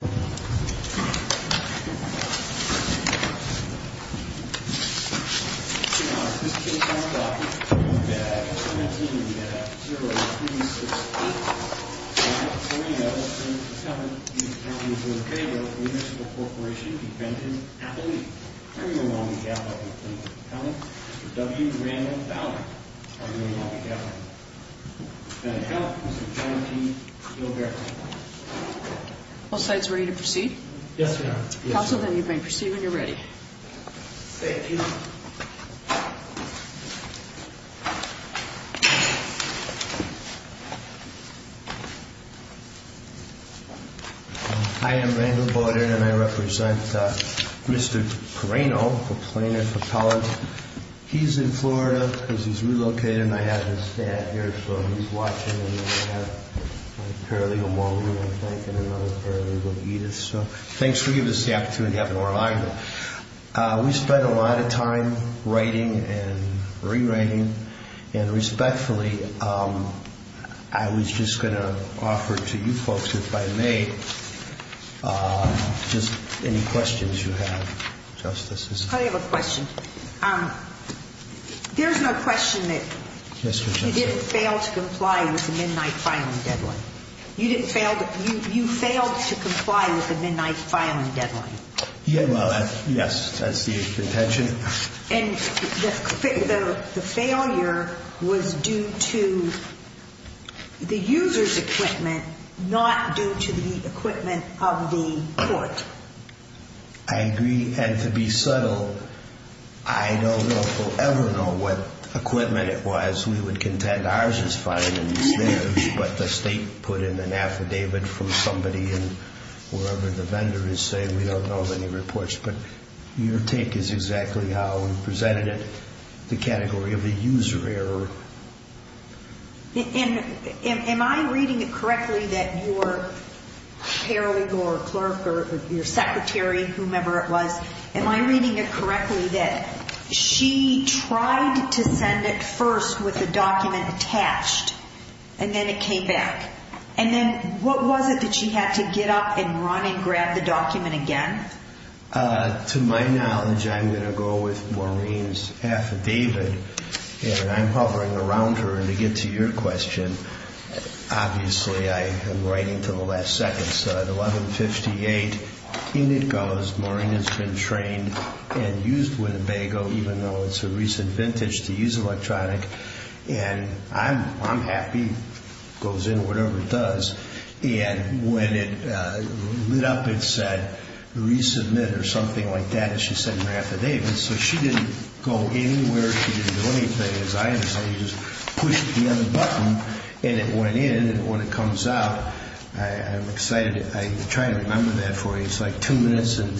In honor of this case on the block, I move that Act Number 17 in the Ad Hoc Zero to be 6-8. Senate 407, Senate 407, the attorney is in favor of Municipal Corporation Defendant Appellee, I move on behalf of the attorney's attorney, Mr. W. Randall Bowden. I move on behalf of the attorney. Senate 410, Mr. John T. Gilbert. All sides ready to proceed? Yes, ma'am. Council, then you may proceed when you're ready. Thank you. Hi, I'm Randall Bowden and I represent Mr. Periano, the plaintiff appellant. He's in Florida because he's relocated and I have his lawyer, I think, in another area, so thanks for giving us the opportunity to have an oral argument. We spent a lot of time writing and rewriting and respectfully, I was just going to offer to you folks if I may, just any questions you have. I have a question. There's no question that you didn't fail to comply with the midnight filing deadline. You didn't fail, you failed to comply with the midnight filing deadline. Yes, that's the intention. And the failure was due to the user's equipment, not due to the equipment of the court. I agree, and to be subtle, I don't know if we'll ever know what equipment it was. We would find out, David, from somebody and wherever the vendor is saying we don't know of any reports, but your take is exactly how you presented it, the category of a user error. Am I reading it correctly that your clerk or your secretary, whomever it was, am I reading it correctly that she tried to send it first with the document attached and then it came back? And then what was it that she had to get up and run and grab the document again? To my knowledge, I'm going to go with Maureen's affidavit, and I'm hovering around her, and to get to your question, obviously I am writing to the last second, so at 11.58, in it goes. Maureen has been happy, goes in, whatever it does, and when it lit up, it said resubmit or something like that, as she said in her affidavit, so she didn't go anywhere, she didn't do anything. As I understand, you just pushed the other button, and it went in, and when it comes out, I'm excited. I'm trying to remember that for you. It's like two minutes and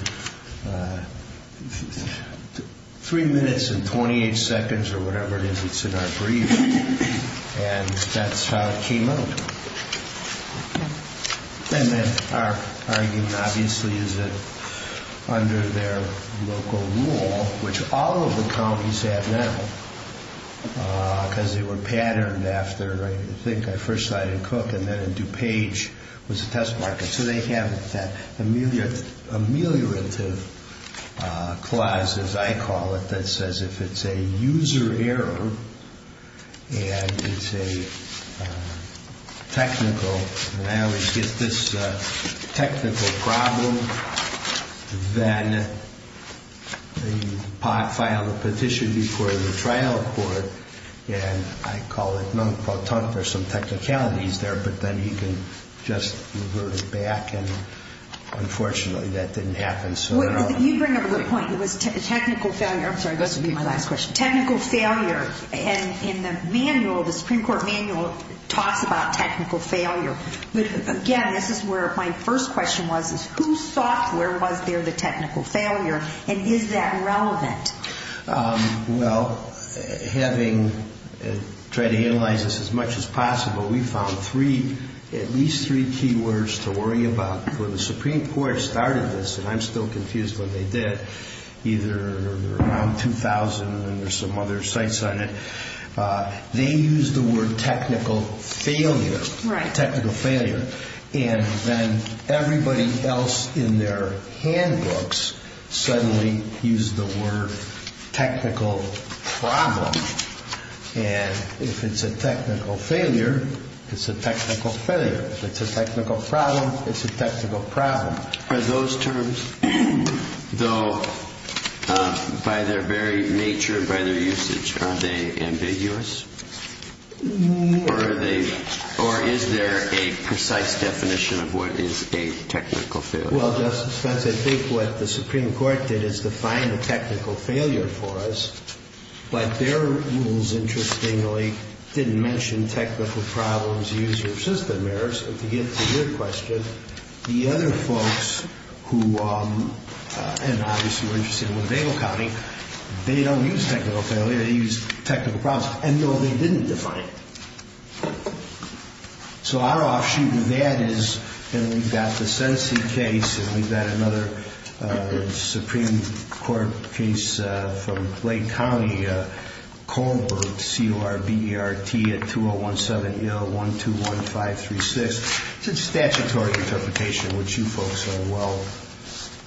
three minutes and 28 seconds or whatever it is that's in our brief, and that's how it came out. And then our argument, obviously, is that under their local rule, which all of the counties have now, because they were patterned after, I think at first I didn't cook, and then in DuPage was a test market, so they have that ameliorative clause, as I call it, that says if it's a user error, and it's a technical, and I always get this technical problem, then they file a petition before the trial court, and I call it non-partout, there's some technicalities there, but then you can just revert it back, and unfortunately that didn't happen. You bring up a good point. It was technical failure. I'm sorry, this will be my last question. Technical failure, and in the manual, the Supreme Court manual talks about technical failure, but again, this is where my first question was, is whose software was there the technical failure, and is that relevant? Well, having tried to analyze this as much as possible, we found three, at least three key words to worry about. When the Supreme Court started this, and I'm still confused when they did, either around 2000 or some other sites on it, they used the word technical failure, technical failure, and then everybody else in their handbooks suddenly used the word technical failure. It's a technical problem, and if it's a technical failure, it's a technical failure. If it's a technical problem, it's a technical problem. Are those terms, though, by their very nature, by their usage, are they ambiguous? No. Or is there a precise definition of what is a technical failure? Well, Justice Pence, I think what the Supreme Court did is define the technical failure for us, but their rules, interestingly, didn't mention technical problems, user of system errors. But to get to your question, the other folks who, and obviously we're interested in what they were counting, they don't use technical failure, they use technical problems, and no, they didn't define it. So our offshoot in that is, and we've got the Sensi case, and we've got another Supreme Court case from Lake County, Kohlberg, C-O-R-B-E-R-T, at 201-7-0-1-2-1-5-3-6. It's a statutory interpretation, which you folks are well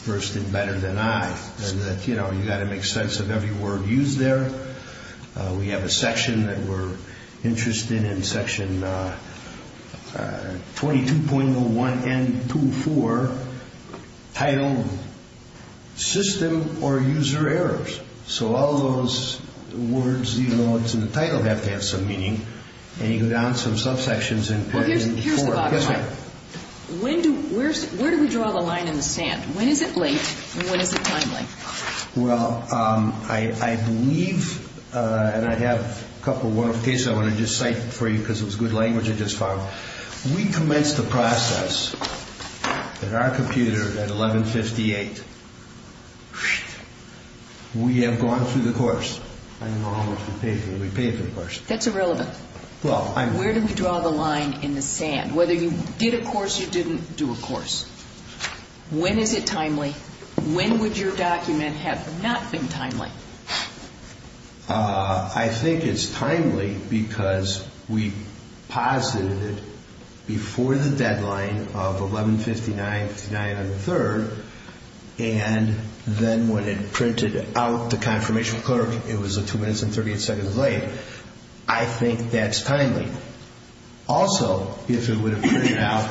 versed in better than I, and you've got to make sense of every word used there. We have a section that we're interested in, section 22.01-N-2-4, titled System or User Errors. So all those words, even though it's in the title, have to have some meaning, and you go down some subsections and put it in the form. Well, here's the bottom line. Yes, ma'am. Where do we draw the line in the sand? When is it late, and when is it timely? Well, I believe, and I have a couple of cases I want to just cite for you because it was good language I just found. We commenced the process at our computer at 11-58. We have gone through the course. I don't know how much we paid for it. We paid for the course. That's irrelevant. Well, I'm… Where do we draw the line in the sand? When is it timely? When would your document have not been timely? I think it's timely because we posited it before the deadline of 11-59 on the 3rd, and then when it printed out to confirmation clerk, it was 2 minutes and 38 seconds late. I think that's timely. Also, if it would have printed out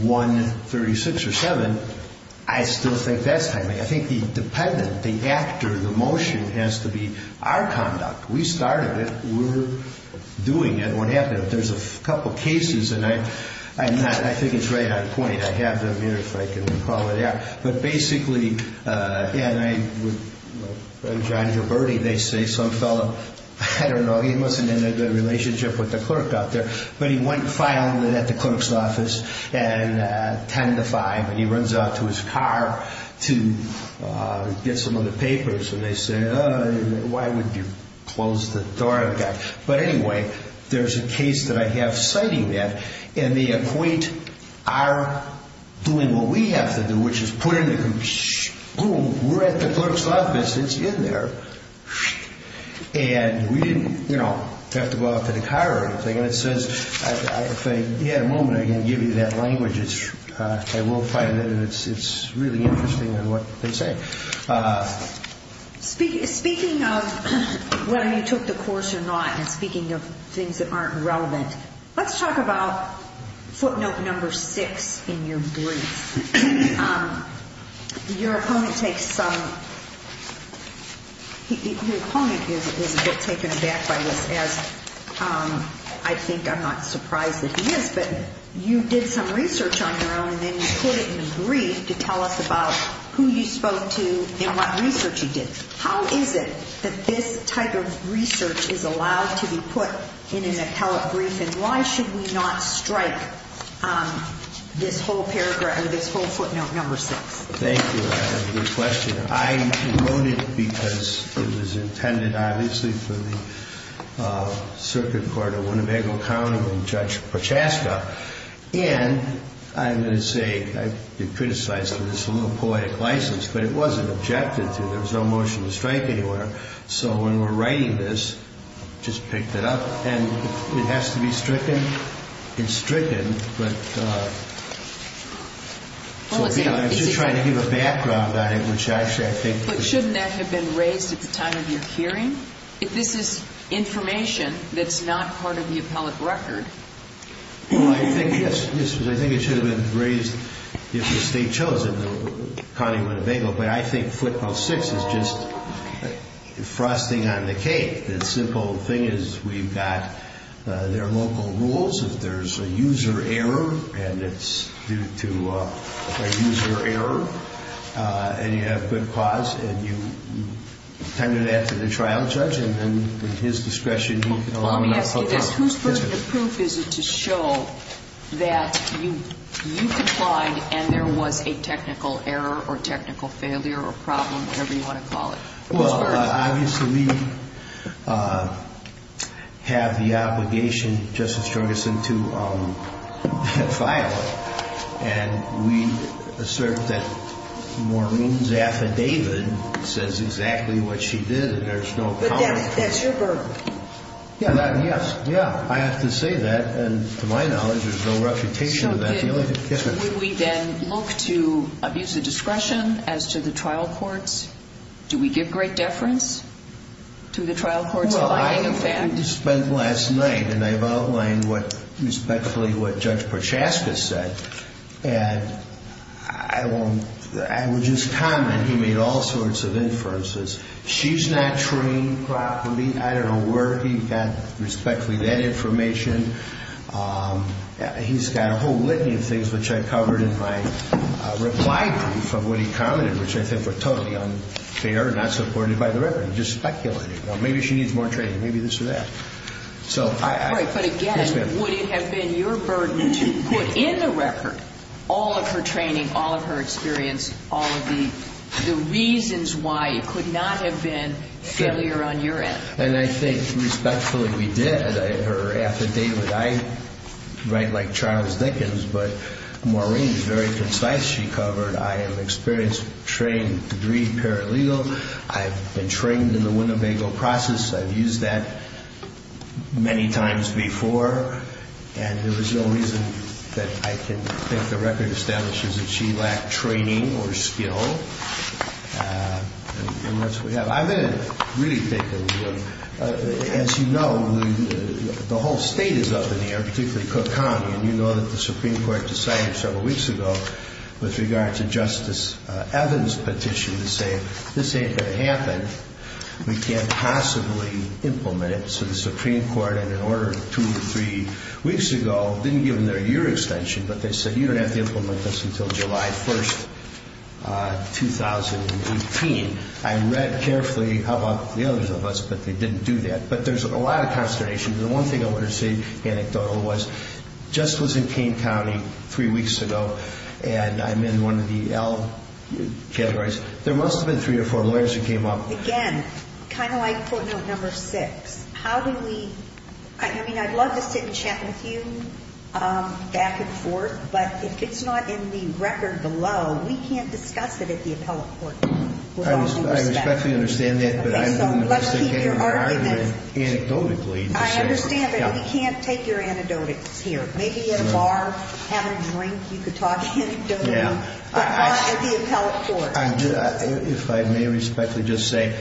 1-36 or 7, I still think that's timely. I think the dependent, the actor, the motion has to be our conduct. We started it. We're doing it. What happened? There's a couple of cases, and I think it's right on point. I have them here, if I can call it out. Basically, with John Gioberti, they say some fellow, I don't know, he wasn't in a good relationship with the clerk out there, but he went filing it at the clerk's office, 10-5, and he runs out to his car to get some of the papers, and they say, why would you close the door? Anyway, there's a case that I have citing that, and they appoint our doing what we have to do, which is put in the room. Boom, we're at the clerk's office. It's in there. And we didn't have to go out to the car or anything. And it says, if I had a moment, I can give you that language. I will find it, and it's really interesting in what they say. Speaking of whether you took the course or not and speaking of things that aren't relevant, let's talk about footnote number six in your brief. Your opponent is a bit taken aback by this, as I think I'm not surprised that he is, but you did some research on your own, and then you put it in the brief to tell us about who you spoke to and what research you did. How is it that this type of research is allowed to be put in an appellate brief, and why should we not strike this whole paragraph or this whole footnote number six? Thank you. That's a good question. I wrote it because it was intended, obviously, for the Circuit Court of Winnebago County and Judge Prochaska, and I'm going to say I've been criticized for this a little poetic license, but it wasn't objected to. There was no motion to strike anywhere. So when we're writing this, I just picked it up, and it has to be stricken. It's stricken, but I'm just trying to give a background on it, which actually I think... But shouldn't that have been raised at the time of your hearing? This is information that's not part of the appellate record. I think it should have been raised if the State chose it in the County of Winnebago, but I think footnote six is just frosting on the cake. The simple thing is we've got their local rules. If there's a user error, and it's due to a user error, and you have good cause, and you tend to that to the trial judge, and then with his discretion, you can allow... Let me ask you this. Whose burden of proof is it to show that you complied and there was a technical error or technical failure or problem, whatever you want to call it? Well, obviously we have the obligation, Justice Jorgensen, to file it, and we assert that Maureen's affidavit says exactly what she did, and there's no comment. But that's your burden. Yes, I have to say that, and to my knowledge, there's no reputation in that field. So would we then look to abuse of discretion as to the trial courts? Do we give great deference to the trial court's finding, in fact? Well, I spent last night, and I've outlined respectfully what Judge Prochaska said, and I would just comment he made all sorts of inferences. She's not trained properly. I don't know where he got respectfully that information. He's got a whole litany of things, which I covered in my reply brief of what he commented, which I think were totally unfair, not supported by the record, just speculating. Maybe she needs more training, maybe this or that. All right, but again, would it have been your burden to put in the record all of her training, all of her experience, all of the reasons why it could not have been failure on your end? And I think respectfully, we did. Her affidavit, I write like Charles Dickens, but Maureen is very concise. She covered I am experienced, trained, degreed paralegal. I have been trained in the Winnebago process. I've used that many times before, and there is no reason that I can think the record establishes that she lacked training or skill. I've been really thinking, as you know, the whole state is up in the air, particularly Cook County, and you know that the Supreme Court decided several weeks ago with regard to Justice Evans' petition to say this ain't going to happen, we can't possibly implement it. So the Supreme Court, in an order of two or three weeks ago, didn't give them their year extension, but they said you don't have to implement this until July 1st, 2018. I read carefully about the others of us, but they didn't do that. But there's a lot of consternation. The one thing I want to say anecdotally was Justice was in Kane County three weeks ago, and I'm in one of the L categories. There must have been three or four lawyers who came up. Again, kind of like footnote number six, how do we ñ I mean, I'd love to sit and chat with you back and forth, but if it's not in the record below, we can't discuss it at the appellate court with all due respect. I respectfully understand that. Okay, so let's keep your argument anecdotally. I understand, but we can't take your anecdotes here. Maybe at a bar, having a drink, you could talk anecdotally, but not at the appellate court. If I may respectfully just say,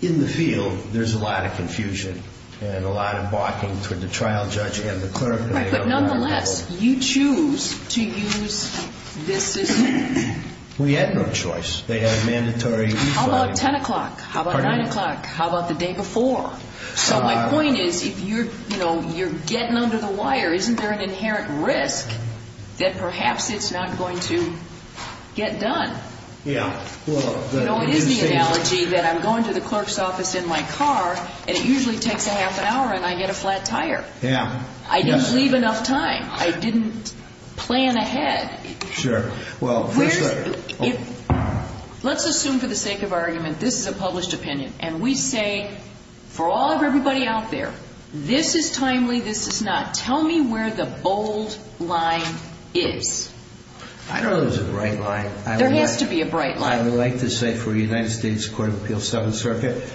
in the field, there's a lot of confusion and a lot of balking toward the trial judge and the clerk. Right, but nonetheless, you choose to use this system. We had no choice. They had mandatory refiling. How about 10 o'clock? How about 9 o'clock? How about the day before? So my point is, if you're getting under the wire, isn't there an inherent risk that perhaps it's not going to get done? Yeah. You know, it is the analogy that I'm going to the clerk's office in my car, and it usually takes a half an hour, and I get a flat tire. Yeah. I didn't leave enough time. I didn't plan ahead. Sure. Let's assume, for the sake of argument, this is a published opinion, and we say, for all of everybody out there, this is timely, this is not. Tell me where the bold line is. I don't know if this is the right line. There has to be a bright line. I would like to say, for the United States Court of Appeals, Seventh Circuit,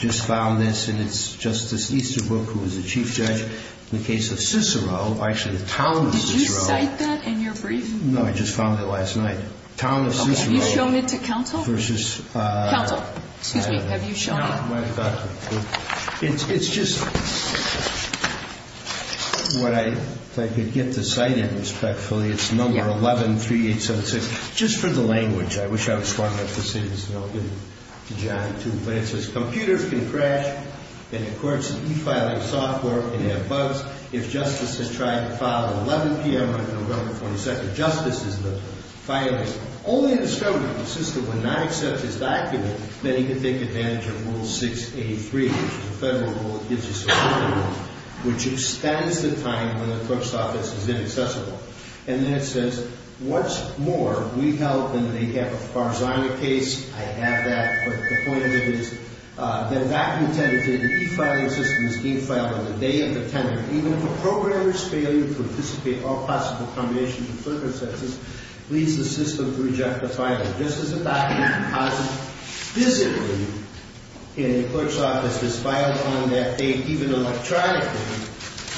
just found this, and it's Justice Easterbrook, who was the chief judge in the case of Cicero, actually the town of Cicero. Did you cite that in your brief? No, I just found it last night. Okay. Town of Cicero. Have you shown it to counsel? Counsel. Excuse me. Have you shown it? It's just what I could get to cite it respectfully. It's number 113876. Just for the language. I wish I was smart enough to say this, and I'll give it to John, too. But it says, computers can crash, and, of course, e-filing software can have bugs. If Justice has tried to file an 11 p.m. on November 22nd, Justice is the filer. Only if the system would not accept his document, then he could take advantage of Rule 683, which is a federal rule that gives you some time, which extends the time when the court's office is inaccessible. And then it says, what's more, we help, and they have a Farzana case. I have that. But the point of it is, the document entered to the e-filing system is e-filed on the day of the tender. Even if a programmer's failure to participate in all possible combinations of circumstances leads the system to reject the filer. Just as the document deposited visibly in the clerk's office is filed on that date, even electronically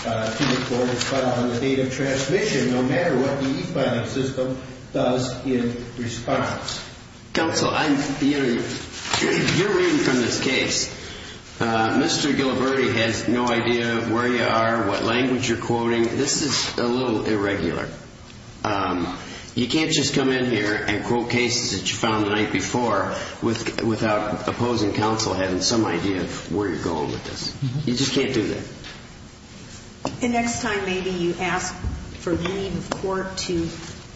to the court, it's filed on the date of transmission, no matter what the e-filing system does in response. Counsel, I'm hearing you're reading from this case. Mr. Giliberti has no idea where you are, what language you're quoting. This is a little irregular. You can't just come in here and quote cases that you found the night before without opposing counsel having some idea of where you're going with this. You just can't do that. And next time maybe you ask for leave of court to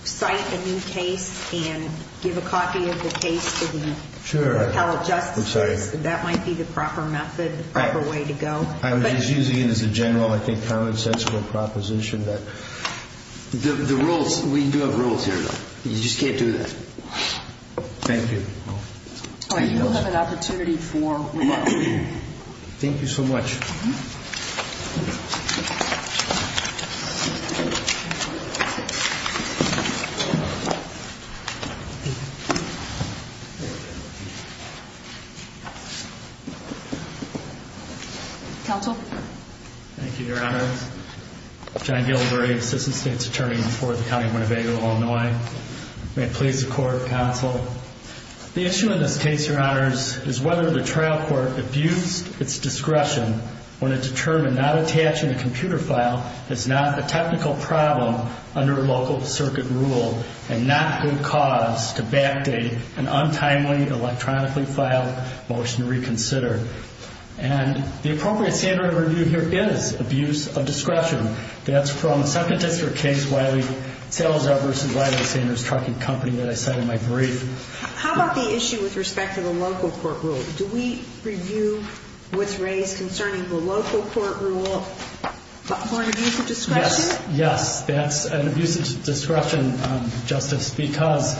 cite a new case and give a copy of the case to the appellate justices. That might be the proper method, the proper way to go. I'm just using it as a general, I think, common sense proposition. The rules, we do have rules here. You just can't do that. Thank you. You'll have an opportunity for rebuttal. Thank you so much. Thank you. Counsel. Thank you, Your Honors. John Giliberti, Assistant State's Attorney for the County of Winnebago, Illinois. May it please the Court, Counsel. The issue in this case, Your Honors, is whether the trial court abused its discretion when it determined not attaching a computer file is not a technical problem under local circuit rule and not good cause to backdate an untimely, electronically filed motion to reconsider. And the appropriate standard of review here is abuse of discretion. That's from the second district case, Salazar v. Wiley Sanders Trucking Company, that I said in my brief. How about the issue with respect to the local court rule? Do we review what's raised concerning the local court rule for an abuse of discretion? Yes, that's an abuse of discretion, Justice, because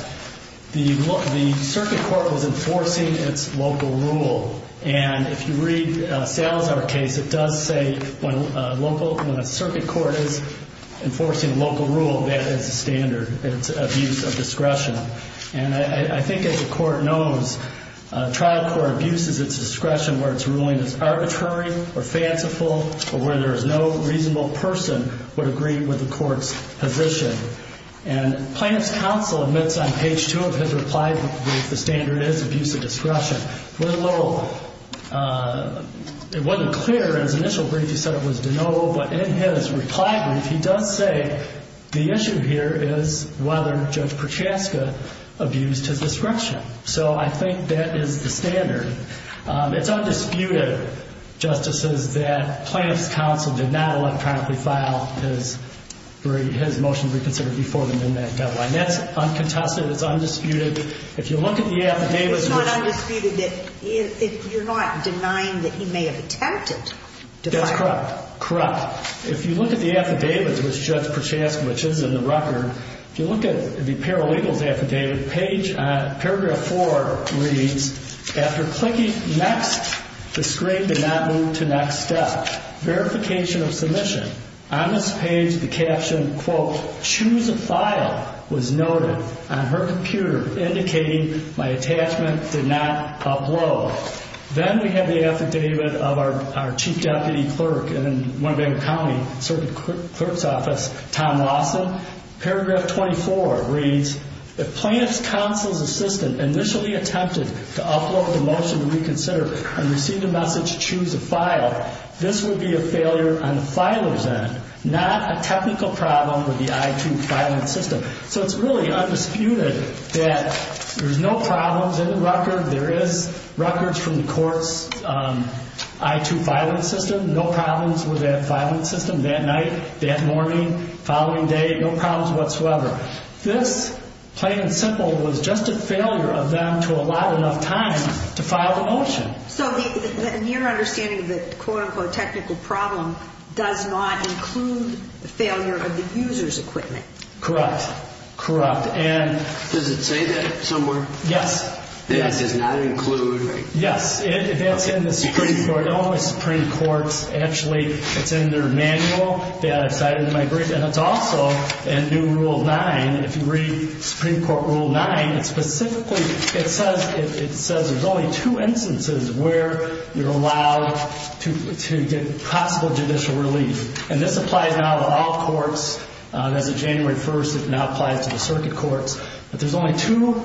the circuit court was enforcing its local rule. And if you read Salazar's case, it does say when a circuit court is enforcing a local rule, that is a standard. It's abuse of discretion. And I think, as the court knows, trial court abuse is its discretion where its ruling is arbitrary or fanciful or where there is no reasonable person would agree with the court's position. And Plaintiff's Counsel admits on page 2 of his reply that the standard is abuse of discretion. With a little ‑‑ it wasn't clear in his initial brief he said it was de novo, but in his reply brief, he does say the issue here is whether Judge Prochaska abused his discretion. So I think that is the standard. It's undisputed, Justices, that Plaintiff's Counsel did not electronically file his motion to reconsider before them in that deadline. That's uncontested. It's undisputed. If you look at the affidavits ‑‑ It's not undisputed that you're not denying that he may have attempted to file ‑‑ That's correct. Correct. If you look at the affidavits, which Judge Prochaska, which is in the record, if you look at the paralegals affidavit, paragraph 4 reads, after clicking next, the screen did not move to next step. Verification of submission. On this page, the caption, quote, choose a file, was noted on her computer, indicating my attachment did not upload. Then we have the affidavit of our Chief Deputy Clerk in Winnebago County, Circuit Clerk's Office, Tom Lawson. Paragraph 24 reads, if Plaintiff's Counsel's assistant initially attempted to upload the motion to reconsider and receive the message, choose a file, this would be a failure on the filer's end, not a technical problem with the I-2 filing system. So it's really undisputed that there's no problems in the record. There is records from the court's I-2 filing system. No problems with that filing system that night, that morning, following day. No problems whatsoever. This, plain and simple, was just a failure of them to allot enough time to file the motion. So in your understanding, the quote, unquote, technical problem does not include the failure of the user's equipment. Correct, correct. Does it say that somewhere? Yes. That it does not include, right? Yes, it's in the Supreme Court. All the Supreme Courts, actually, it's in their manual that I've cited in my brief, and it's also in new Rule 9. If you read Supreme Court Rule 9, it specifically, it says there's only two instances where you're allowed to get possible judicial relief. And this applies now to all courts. As of January 1st, it now applies to the circuit courts. But there's only two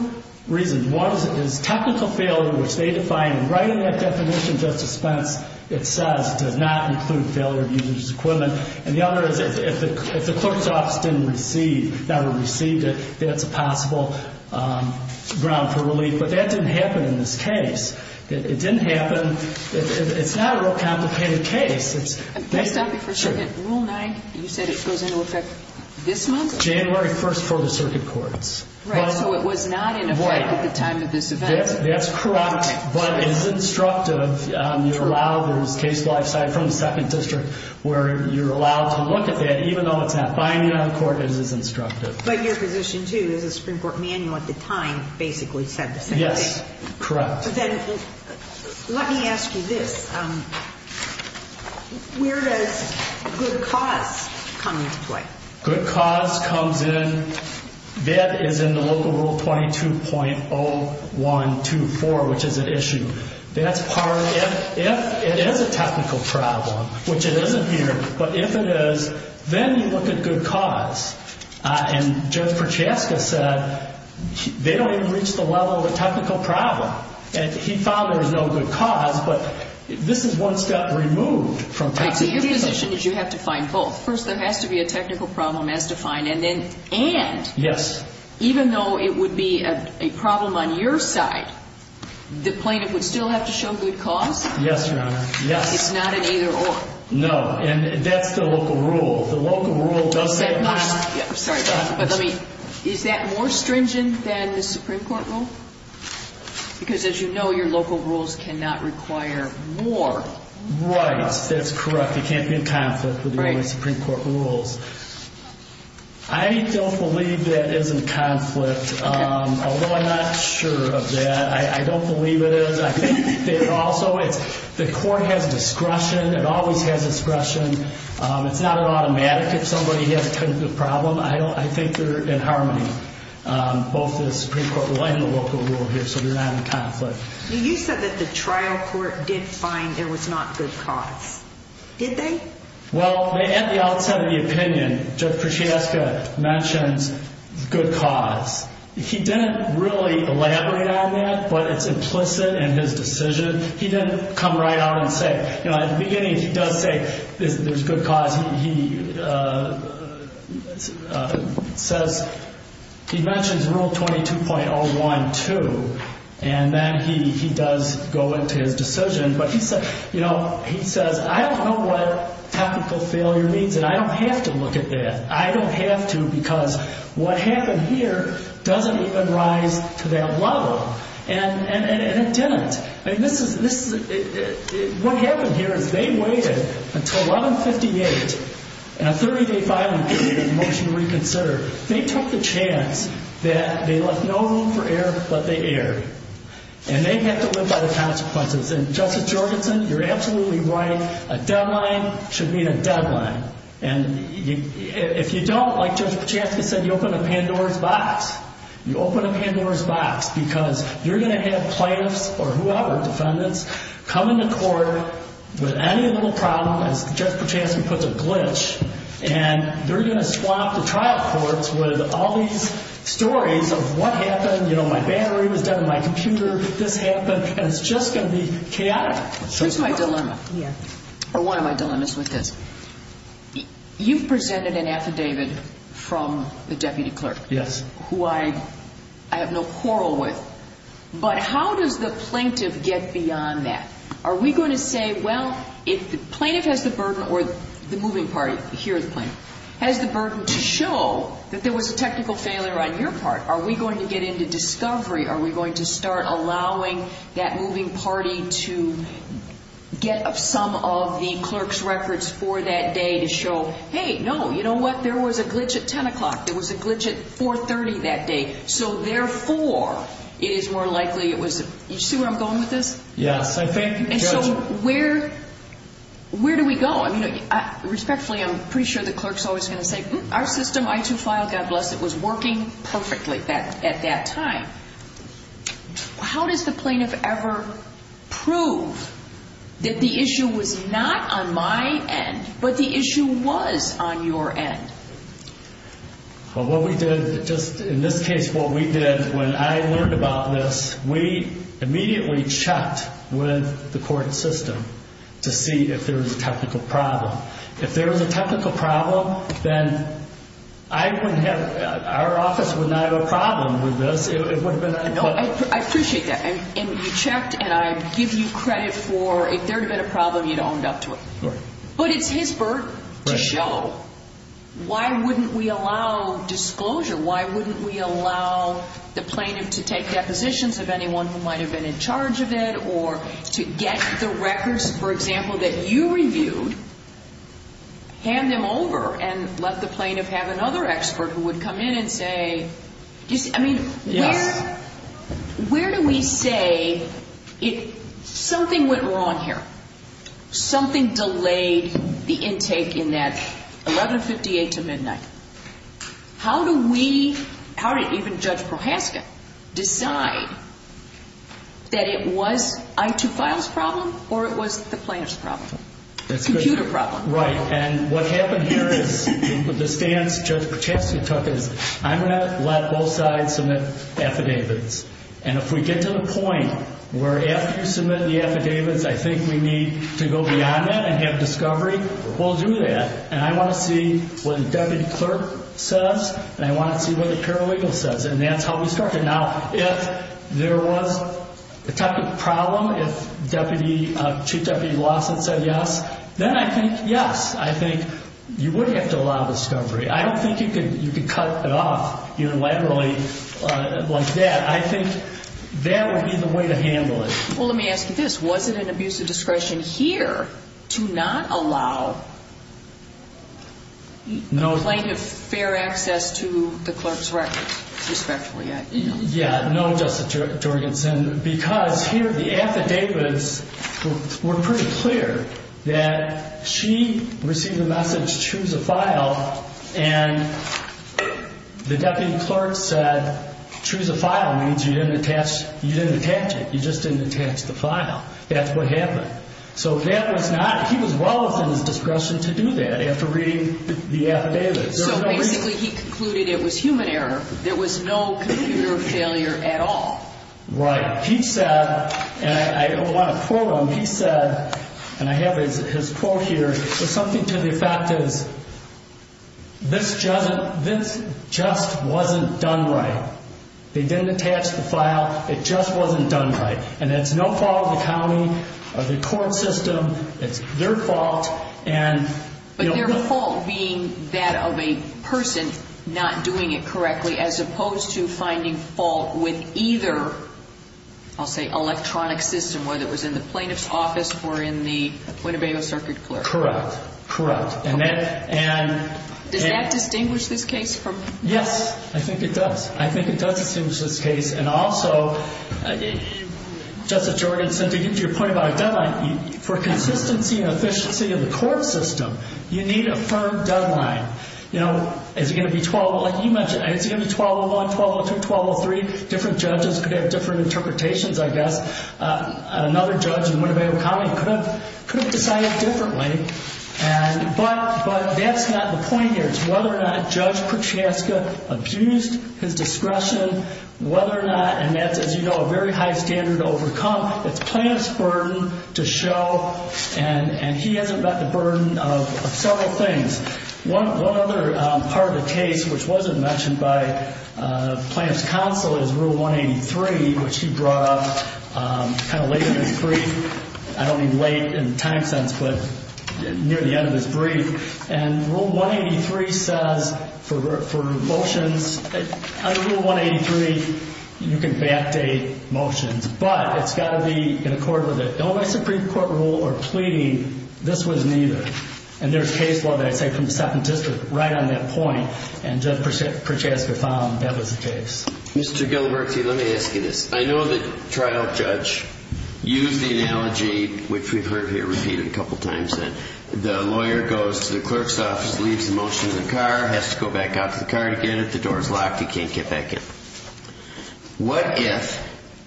reasons. One is technical failure, which they define right in that definition, Justice Spence, it says does not include failure of user's equipment. And the other is if the clerk's office didn't receive, never received it, that's a possible ground for relief. But that didn't happen in this case. It didn't happen. It's not a real complicated case. Can I stop you for a second? Rule 9, you said it goes into effect this month? January 1st for the circuit courts. Right, so it was not in effect at the time of this event. That's correct, but it is instructive. You're allowed, there's case by side from the second district where you're allowed to look at that even though it's not binding on the court, it is instructive. But your position, too, is the Supreme Court manual at the time basically said the same thing. Yes, correct. Then let me ask you this. Where does good cause come into play? Good cause comes in, that is in the local rule 22.0124, which is at issue. That's part of it. If it is a technical problem, which it isn't here, but if it is, then you look at good cause. And Judge Prochaska said they don't even reach the level of a technical problem. And he found there was no good cause, but this is one step removed from technical. So your position is you have to find both. First, there has to be a technical problem as defined, and then and. Yes. Even though it would be a problem on your side, the plaintiff would still have to show good cause? Yes, Your Honor. Yes. It's not an either or. No. And that's the local rule. The local rule does say. I'm sorry. But let me. Is that more stringent than the Supreme Court rule? Because as you know, your local rules cannot require more. Right. That's correct. It can't be in conflict with the Supreme Court rules. I don't believe that is in conflict, although I'm not sure of that. I don't believe it is. I think that also the court has discretion. It always has discretion. It's not an automatic. If somebody has a technical problem, I think they're in harmony, both the Supreme Court rule and the local rule here. So they're not in conflict. You said that the trial court did find there was not good cause. Did they? Well, at the outset of the opinion, Judge Kruschevska mentions good cause. He didn't really elaborate on that, but it's implicit in his decision. He didn't come right out and say. At the beginning, he does say there's good cause. He says. He mentions Rule 22.01 too, and then he does go into his decision. He says, I don't know what technical failure means, and I don't have to look at that. I don't have to because what happened here doesn't even rise to that level, and it didn't. What happened here is they waited until 1158 and a 30-day filing period and motion to reconsider. They took the chance that they left no room for error, but they erred, and they had to live by the consequences. And Justice Jorgenson, you're absolutely right. A deadline should meet a deadline. And if you don't, like Judge Kruschevska said, you open a Pandora's box. You open a Pandora's box because you're going to have plaintiffs or whoever, defendants, come into court with any little problem, as Judge Kruschevska puts it, glitch, and they're going to swamp the trial courts with all these stories of what happened. You know, my battery was dead in my computer. This happened, and it's just going to be chaotic. Here's my dilemma, or one of my dilemmas with this. You've presented an affidavit from the deputy clerk, who I have no quarrel with, but how does the plaintiff get beyond that? Are we going to say, well, if the plaintiff has the burden, or the moving party, here is the plaintiff, has the burden to show that there was a technical failure on your part. Are we going to get into discovery? Are we going to start allowing that moving party to get some of the clerk's records for that day to show, hey, no, you know what, there was a glitch at 10 o'clock. There was a glitch at 4.30 that day. So therefore, it is more likely it was, you see where I'm going with this? Yes, I think, Judge. And so where do we go? I mean, respectfully, I'm pretty sure the clerk's always going to say, our system, I-2-5, God bless it, was working perfectly at that time. How does the plaintiff ever prove that the issue was not on my end, but the issue was on your end? Well, what we did, just in this case, what we did when I learned about this, we immediately checked with the court system to see if there was a technical problem. If there was a technical problem, then I wouldn't have, our office would not have a problem with this. It would have been unequivocal. I appreciate that. And you checked, and I give you credit for if there had been a problem, you'd have owned up to it. Right. But it's his birth to show. Why wouldn't we allow disclosure? Why wouldn't we allow the plaintiff to take depositions of anyone who might have been in charge of it or to get the records, for example, that you reviewed, hand them over, and let the plaintiff have another expert who would come in and say, I mean, where do we say something went wrong here? Something delayed the intake in that 1158 to midnight. How do we, how did even Judge Prochaska decide that it was I-2-5's problem or it was the plaintiff's problem? Computer problem. Right. And what happened here is the stance Judge Prochaska took is I'm going to let both sides submit affidavits. And if we get to the point where after you submit the affidavits I think we need to go beyond that and have discovery, we'll do that. And I want to see what the deputy clerk says and I want to see what the paralegal says. And that's how we start. Now, if there was a type of problem, if Deputy, Chief Deputy Lawson said yes, then I think, yes, I think you would have to allow discovery. I don't think you could cut it off unilaterally like that. I think that would be the way to handle it. Well, let me ask you this. Was it an abuse of discretion here to not allow plaintiff fair access to the clerk's records, respectively? Yeah, no, Justice Jorgensen, because here the affidavits were pretty clear that she received a message, choose a file, and the deputy clerk said choose a file means you didn't attach it. You just didn't attach the file. That's what happened. So that was not, he was well within his discretion to do that after reading the affidavits. So basically he concluded it was human error. There was no computer failure at all. Right. He said, and I want to quote him, he said, and I have his quote here, but something to the effect is this just wasn't done right. They didn't attach the file. It just wasn't done right. And it's no fault of the county or the court system. It's their fault. But their fault being that of a person not doing it correctly as opposed to finding fault with either, I'll say, electronic system, whether it was in the plaintiff's office or in the Puento Valle circuit clerk. Correct. Does that distinguish this case from the other? Yes, I think it does. I think it does distinguish this case. And also, Justice Jorgenson, to get to your point about a deadline, for consistency and efficiency of the court system, you need a firm deadline. You know, is it going to be 12, like you mentioned, is it going to be 1201, 1202, 1203? Different judges could have different interpretations, I guess. Another judge in Winnebago County could have decided differently. But that's not the point here. It's whether or not Judge Prochaska abused his discretion, whether or not, and that's, as you know, a very high standard to overcome. It's plaintiff's burden to show, and he has a burden of several things. One other part of the case which wasn't mentioned by plaintiff's counsel is Rule 183, which he brought up kind of late in his brief. I don't mean late in time sense, but near the end of his brief. And Rule 183 says for motions, under Rule 183, you can backdate motions. But it's got to be in accord with it. No, my Supreme Court rule or pleading, this was neither. And there's case law that I'd say from the 2nd District right on that point, and Judge Prochaska found that was the case. Mr. Gilbertsy, let me ask you this. I know the trial judge used the analogy, which we've heard here repeated a couple times, that the lawyer goes to the clerk's office, leaves the motion in the car, has to go back out to the car to get it. The door is locked. He can't get back in. What if,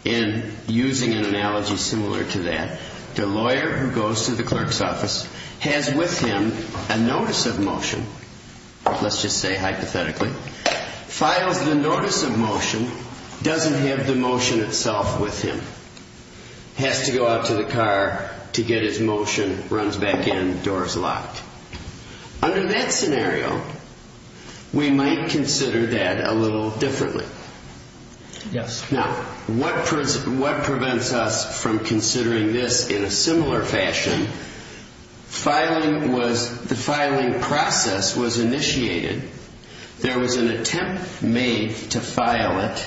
in using an analogy similar to that, the lawyer who goes to the clerk's office has with him a notice of motion, let's just say hypothetically, files the notice of motion, doesn't have the motion itself with him, has to go out to the car to get his motion, runs back in, door is locked. Under that scenario, we might consider that a little differently. Yes. Now, what prevents us from considering this in a similar fashion? Filing was, the filing process was initiated. There was an attempt made to file it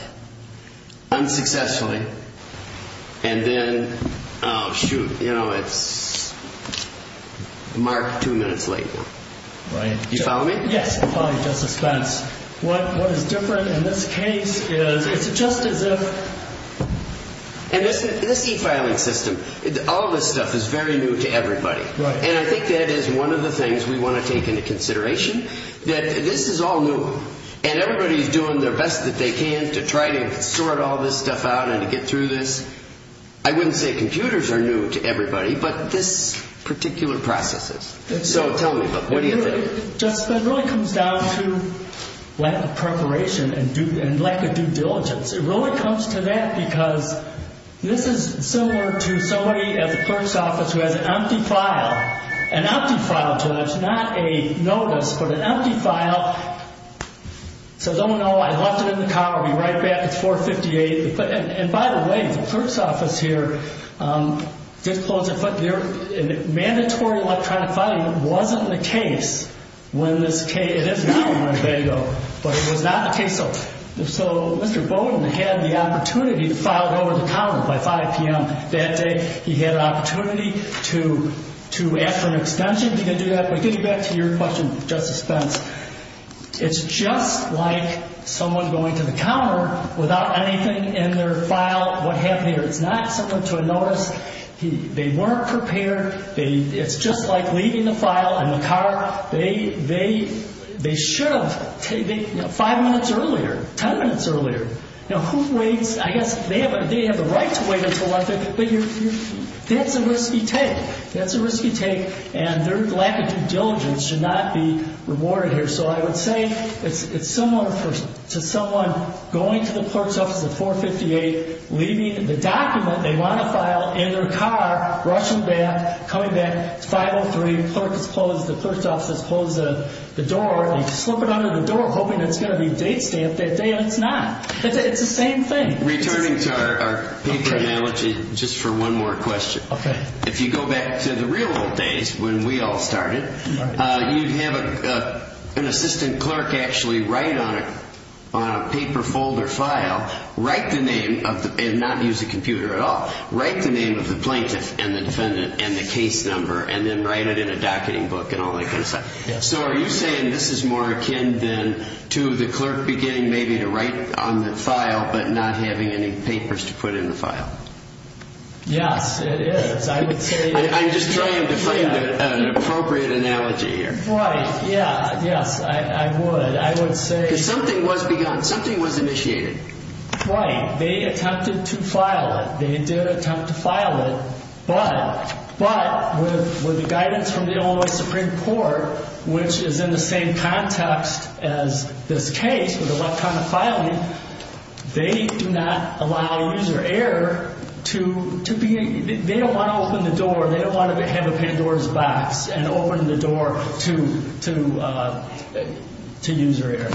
unsuccessfully, and then, oh, shoot, you know, it's marked two minutes late. Right. Do you follow me? Yes, I follow you, Justice Spence. What is different in this case is it's just as if... And this e-filing system, all this stuff is very new to everybody. Right. And I think that is one of the things we want to take into consideration, that this is all new, and everybody is doing their best that they can to try to sort all this stuff out and to get through this. I wouldn't say computers are new to everybody, but this particular process is. So tell me, what do you think? Justice Spence, it really comes down to lack of preparation and lack of due diligence. It really comes to that because this is similar to somebody at the clerk's office who has an empty file. An empty file. So that's not a notice, but an empty file. Says, oh, no, I left it in the car. I'll be right back. It's 4.58. And by the way, the clerk's office here did close it, but their mandatory electronic filing wasn't the case when this case... It is now on Monday, though, but it was not the case. So Mr. Bowden had the opportunity to file it over the counter by 5 p.m. that day. He had an opportunity to, after an extension, to do that. But getting back to your question, Justice Spence, it's just like someone going to the counter without anything in their file. What happened there? It's not similar to a notice. They weren't prepared. It's just like leaving the file in the car. They should have five minutes earlier, ten minutes earlier. Now, who waits? I guess they have the right to wait until after, but that's a risky take. That's a risky take, and their lack of due diligence should not be rewarded here. So I would say it's similar to someone going to the clerk's office at 4.58, leaving the document they want to file in their car, rushing back, coming back. It's 5.03. The clerk's office closes the door. They slip it under the door, hoping it's going to be date stamped that day, and it's not. It's the same thing. Returning to our paper analogy, just for one more question. If you go back to the real old days when we all started, you'd have an assistant clerk actually write on a paper folder file, and not use a computer at all, write the name of the plaintiff and the defendant and the case number, and then write it in a docketing book and all that kind of stuff. So are you saying this is more akin to the clerk beginning maybe to write on the file, but not having any papers to put in the file? Yes, it is. I'm just trying to find an appropriate analogy here. Yes, I would. Because something was begun. Something was initiated. Right. They attempted to file it. They did attempt to file it. But with the guidance from the Illinois Supreme Court, which is in the same context as this case with electronic filing, they do not allow user error to be, they don't want to open the door. They don't want to have a Pandora's box and open the door to user error.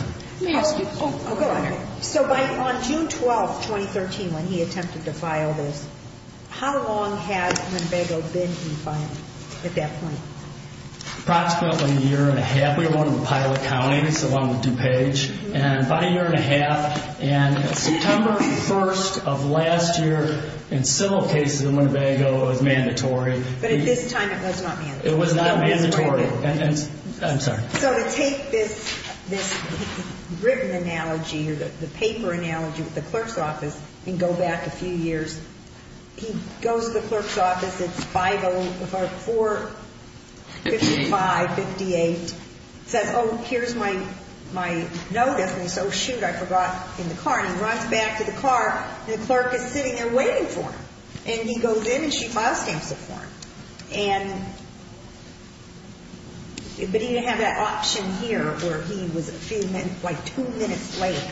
So on June 12, 2013, when he attempted to file this, how long had Winnebago been in filing at that point? Approximately a year and a half. We were one of the pilot counties, along with DuPage. And about a year and a half. And September 1 of last year, in several cases in Winnebago, it was mandatory. But at this time it was not mandatory. It was not mandatory. I'm sorry. So to take this written analogy or the paper analogy with the clerk's office and go back a few years, he goes to the clerk's office. It's 504-55-58. He says, oh, here's my notice. And he says, oh, shoot, I forgot in the car. And he runs back to the car, and the clerk is sitting there waiting for him. And he goes in, and she file stamps it for him. And but he didn't have that option here where he was a few minutes, like two minutes late.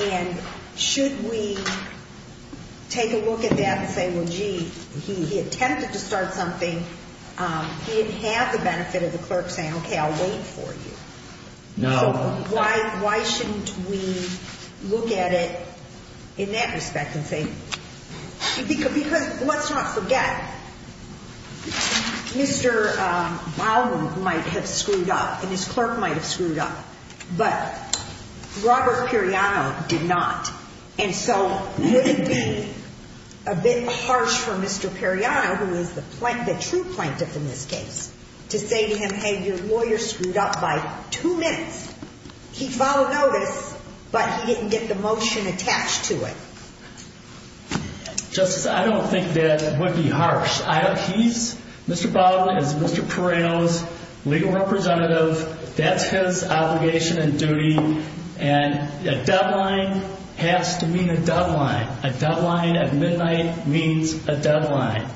And should we take a look at that and say, well, gee, he attempted to start something. He didn't have the benefit of the clerk saying, okay, I'll wait for you. No. Why shouldn't we look at it in that respect and say, because let's not forget, Mr. Baldwin might have screwed up, and his clerk might have screwed up. But Robert Periano did not. And so wouldn't it be a bit harsh for Mr. Periano, who is the true plaintiff in this case, to say to him, hey, your lawyer screwed up by two minutes. He followed notice, but he didn't get the motion attached to it. Justice, I don't think that would be harsh. He's, Mr. Baldwin is Mr. Periano's legal representative. That's his obligation and duty. And a deadline has to mean a deadline. A deadline at midnight means a deadline.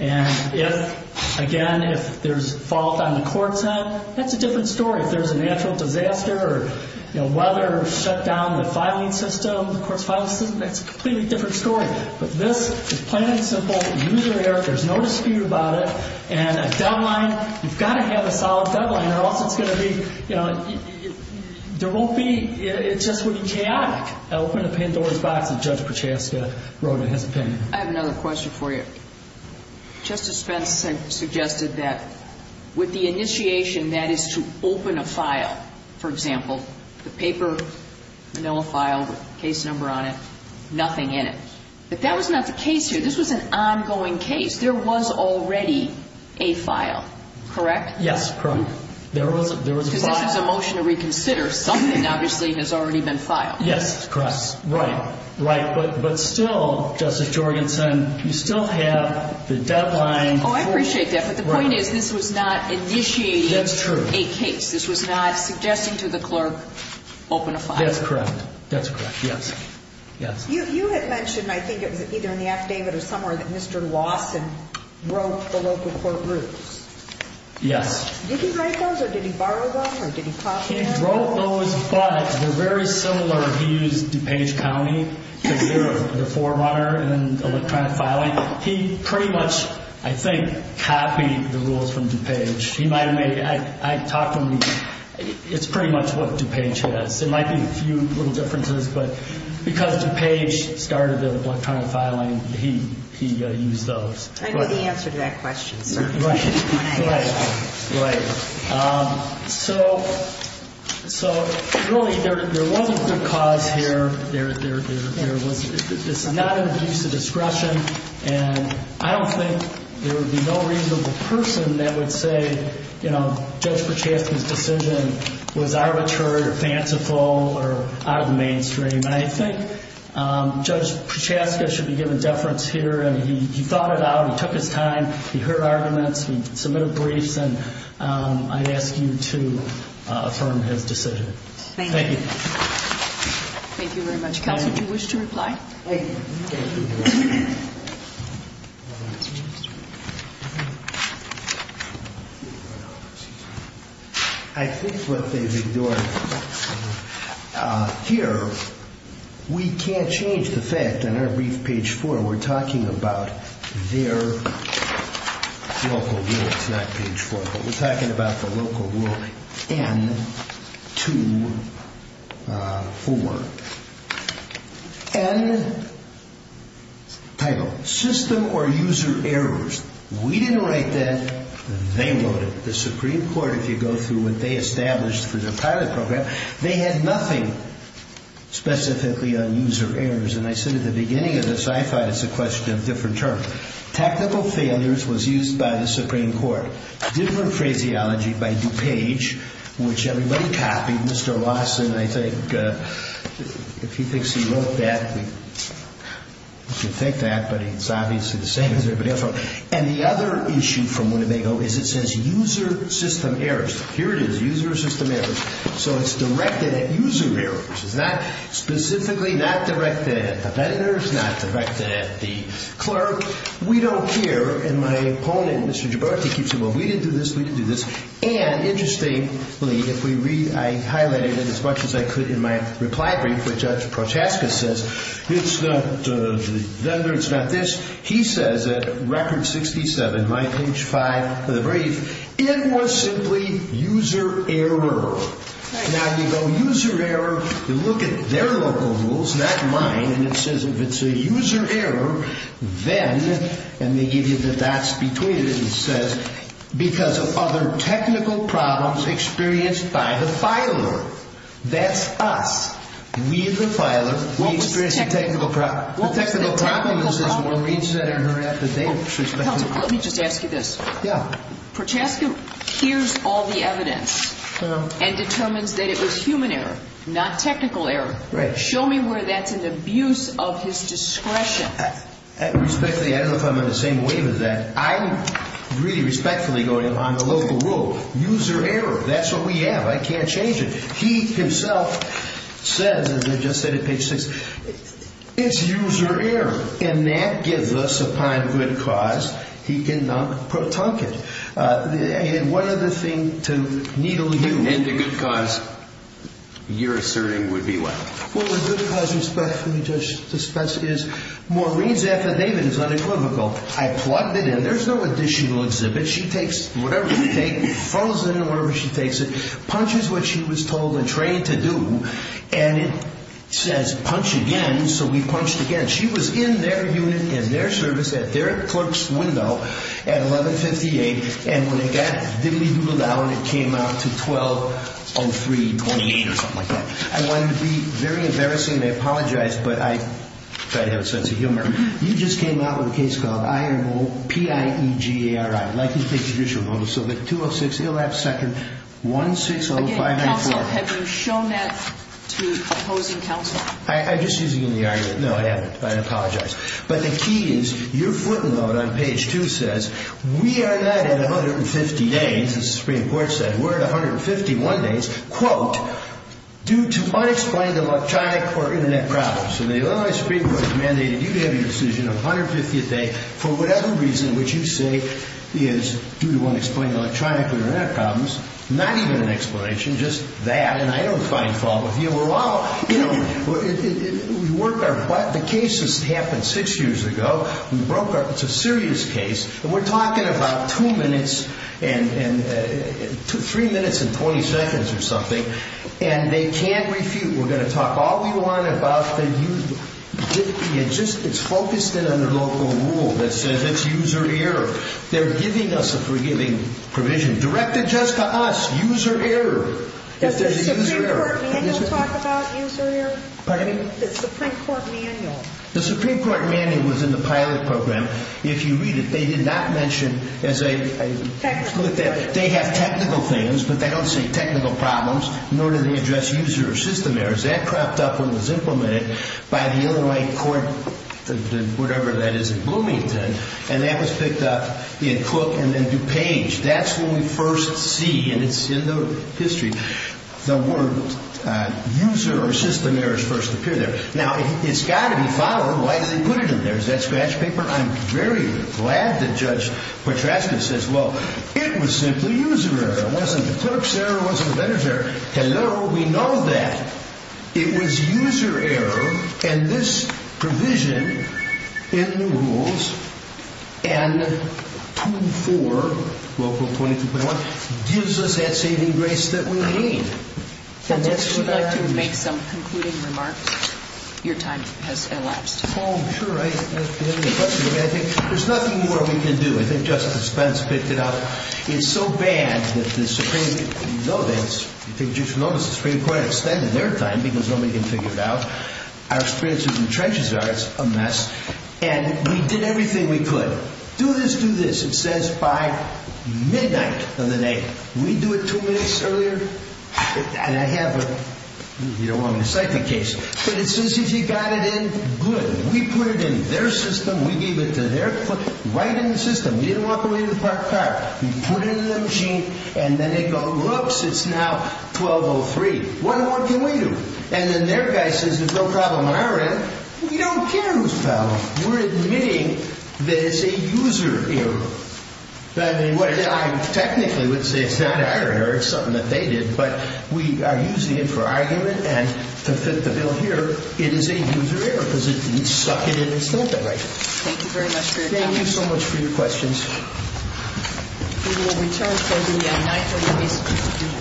And if, again, if there's fault on the court's end, that's a different story. If there's a natural disaster or, you know, weather or shutdown in the filing system, the court's filing system, that's a completely different story. But this is plain and simple. Use your ear. There's no dispute about it. And a deadline, you've got to have a solid deadline or else it's going to be, you know, there won't be, it's just going to be chaotic. Open the Pandora's box, as Judge Prochaska wrote in his opinion. I have another question for you. Justice Spence suggested that with the initiation, that is to open a file, for example, the paper, file with the case number on it, nothing in it. But that was not the case here. This was an ongoing case. There was already a file, correct? Yes, correct. There was a file. Because this is a motion to reconsider. Something obviously has already been filed. Yes, correct. Right, right. But still, Justice Jorgensen, you still have the deadline. Oh, I appreciate that. But the point is this was not initiating a case. That's true. This was not suggesting to the clerk open a file. That's correct. That's correct, yes. Yes. You had mentioned, I think it was either in the affidavit or somewhere, that Mr. Lawson wrote the local court rules. Yes. Did he write those, or did he borrow them, or did he copy them? He wrote those, but they're very similar. He used DuPage County because they're the forerunner in electronic filing. He pretty much, I think, copied the rules from DuPage. He might have made it. I talked to him. It's pretty much what DuPage has. There might be a few little differences, but because DuPage started the electronic filing, he used those. I know the answer to that question, sir. Right. Right. Right. So, really, there was a good cause here. There was not an abuse of discretion, was arbitrary or fanciful or out of the mainstream. I think Judge Prochaska should be given deference here. He thought it out. He took his time. He heard arguments. He submitted briefs, and I'd ask you to affirm his decision. Thank you. Thank you. Thank you very much. Counsel, would you wish to reply? Thank you. Thank you. I think what they've ignored here, we can't change the fact in our brief, page 4, we're talking about their local rule. It's not page 4, but we're talking about the local rule N-2-4. N, title, system or user errors. We didn't write that. They wrote it. The Supreme Court, if you go through what they established for their pilot program, they had nothing specifically on user errors. And I said at the beginning of this, I thought it's a question of different terms. Technical failures was used by the Supreme Court. Different phraseology by DuPage, which everybody copied. Mr. Lawson, I think, if he thinks he wrote that, we can take that, but it's obviously the same as everybody else wrote. And the other issue from Winnebago is it says user system errors. Here it is, user system errors. So it's directed at user errors. It's not specifically not directed at the vendors, not directed at the clerk. We don't care. And my opponent, Mr. Gibralti, keeps saying, well, we didn't do this. We didn't do this. And interestingly, I highlighted it as much as I could in my reply brief, which Judge Prochaska says, it's not the vendor, it's not this. He says at Record 67, my page 5 of the brief, it was simply user error. Now, you go user error, you look at their local rules, not mine, and it says if it's a user error, then, and they give you the dots between it, it says because of other technical problems experienced by the filer. That's us. We, the filer, we experienced a technical problem. The technical problem is when one reads that in her after date. Counselor, let me just ask you this. Yeah. Prochaska hears all the evidence and determines that it was human error, not technical error. Right. Show me where that's an abuse of his discretion. Respectfully, I don't know if I'm in the same wave as that. I'm really respectfully going on the local rule. User error, that's what we have. I can't change it. He himself says, as I just said at page 6, it's user error, and that gives us, upon good cause, he did not tunk it. And one other thing to needle you. And the good cause you're asserting would be what? Well, the good cause respectfully, Judge, is Maureen's after date is unequivocal. I plugged it in. There's no additional exhibit. She takes whatever you take, throws it in wherever she takes it, punches what she was told and trained to do, and it says punch again, so we punched again. She was in their unit in their service at their clerk's window at 1158, and when it got diddly-doodled out, it came out to 120328 or something like that. I want it to be very embarrassing, and I apologize, but I try to have a sense of humor. You just came out with a case called IOPIEGARI, like you think you should know, so the 206, he'll have second, 160594. Counsel, have you shown that to opposing counsel? I'm just using you in the argument. No, I haven't. I apologize. But the key is your footnote on page 2 says, we are not at 150 days, as the Supreme Court said. We're at 151 days. Due to unexplained electronic or Internet problems. So the Illinois Supreme Court mandated you to have your decision on 150th day for whatever reason, which you say is due to unexplained electronic or Internet problems, not even an explanation, just that, and I don't find fault with you. Well, you know, we work our butt. The case happened six years ago. It's a serious case, and we're talking about two minutes and three minutes and 20 seconds or something, and they can't refute. We're going to talk all we want about the user error. It's focused in on the local rule that says it's user error. They're giving us a provision directed just to us, user error. Does the Supreme Court manual talk about user error? Pardon me? The Supreme Court manual. The Supreme Court manual was in the pilot program. If you read it, they did not mention as a technical thing. They have technical things, but they don't say technical problems, nor do they address user or system errors. That crept up when it was implemented by the Illinois court, whatever that is in Bloomington, and that was picked up in Cook and then DuPage. That's when we first see, and it's in the history, the word user or system errors first appear there. Now, it's got to be followed. Why do they put it in there? Is that scratch paper? I'm very glad that Judge Petraschka says, well, it was simply user error. It wasn't the clerk's error. It wasn't the vendor's error. Hello? We know that. It was user error, and this provision in the rules, and 2.4, local 22.1, gives us that saving grace that we need. And that's what I am using. Would you like to make some concluding remarks? Your time has elapsed. Oh, sure. I think there's nothing more we can do. I think Justice Spence picked it up. It's so bad that the Supreme Court, and you know this, I think you should know this, the Supreme Court extended their time because nobody can figure it out. Our experiences in the trenches are, it's a mess, and we did everything we could. Do this, do this. It says by midnight of the day. We do it two minutes earlier? And I have a, you don't want me to cite the case, but it says if you got it in, good. We put it in their system. We gave it to their, right in the system. You didn't walk away with a parked car. We put it in the machine, and then they go, whoops, it's now 12.03. What more can we do? And then their guy says there's no problem on our end. We don't care who's problem. We're admitting that it's a user error. I mean, I technically would say it's not our error. It's something that they did, but we are using it for argument, and to fit the bill here, it is a user error because it didn't suck it in and stamp it right. Thank you very much for your time. Thank you so much for your questions. We will return shortly at 9.30.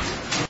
Thank you.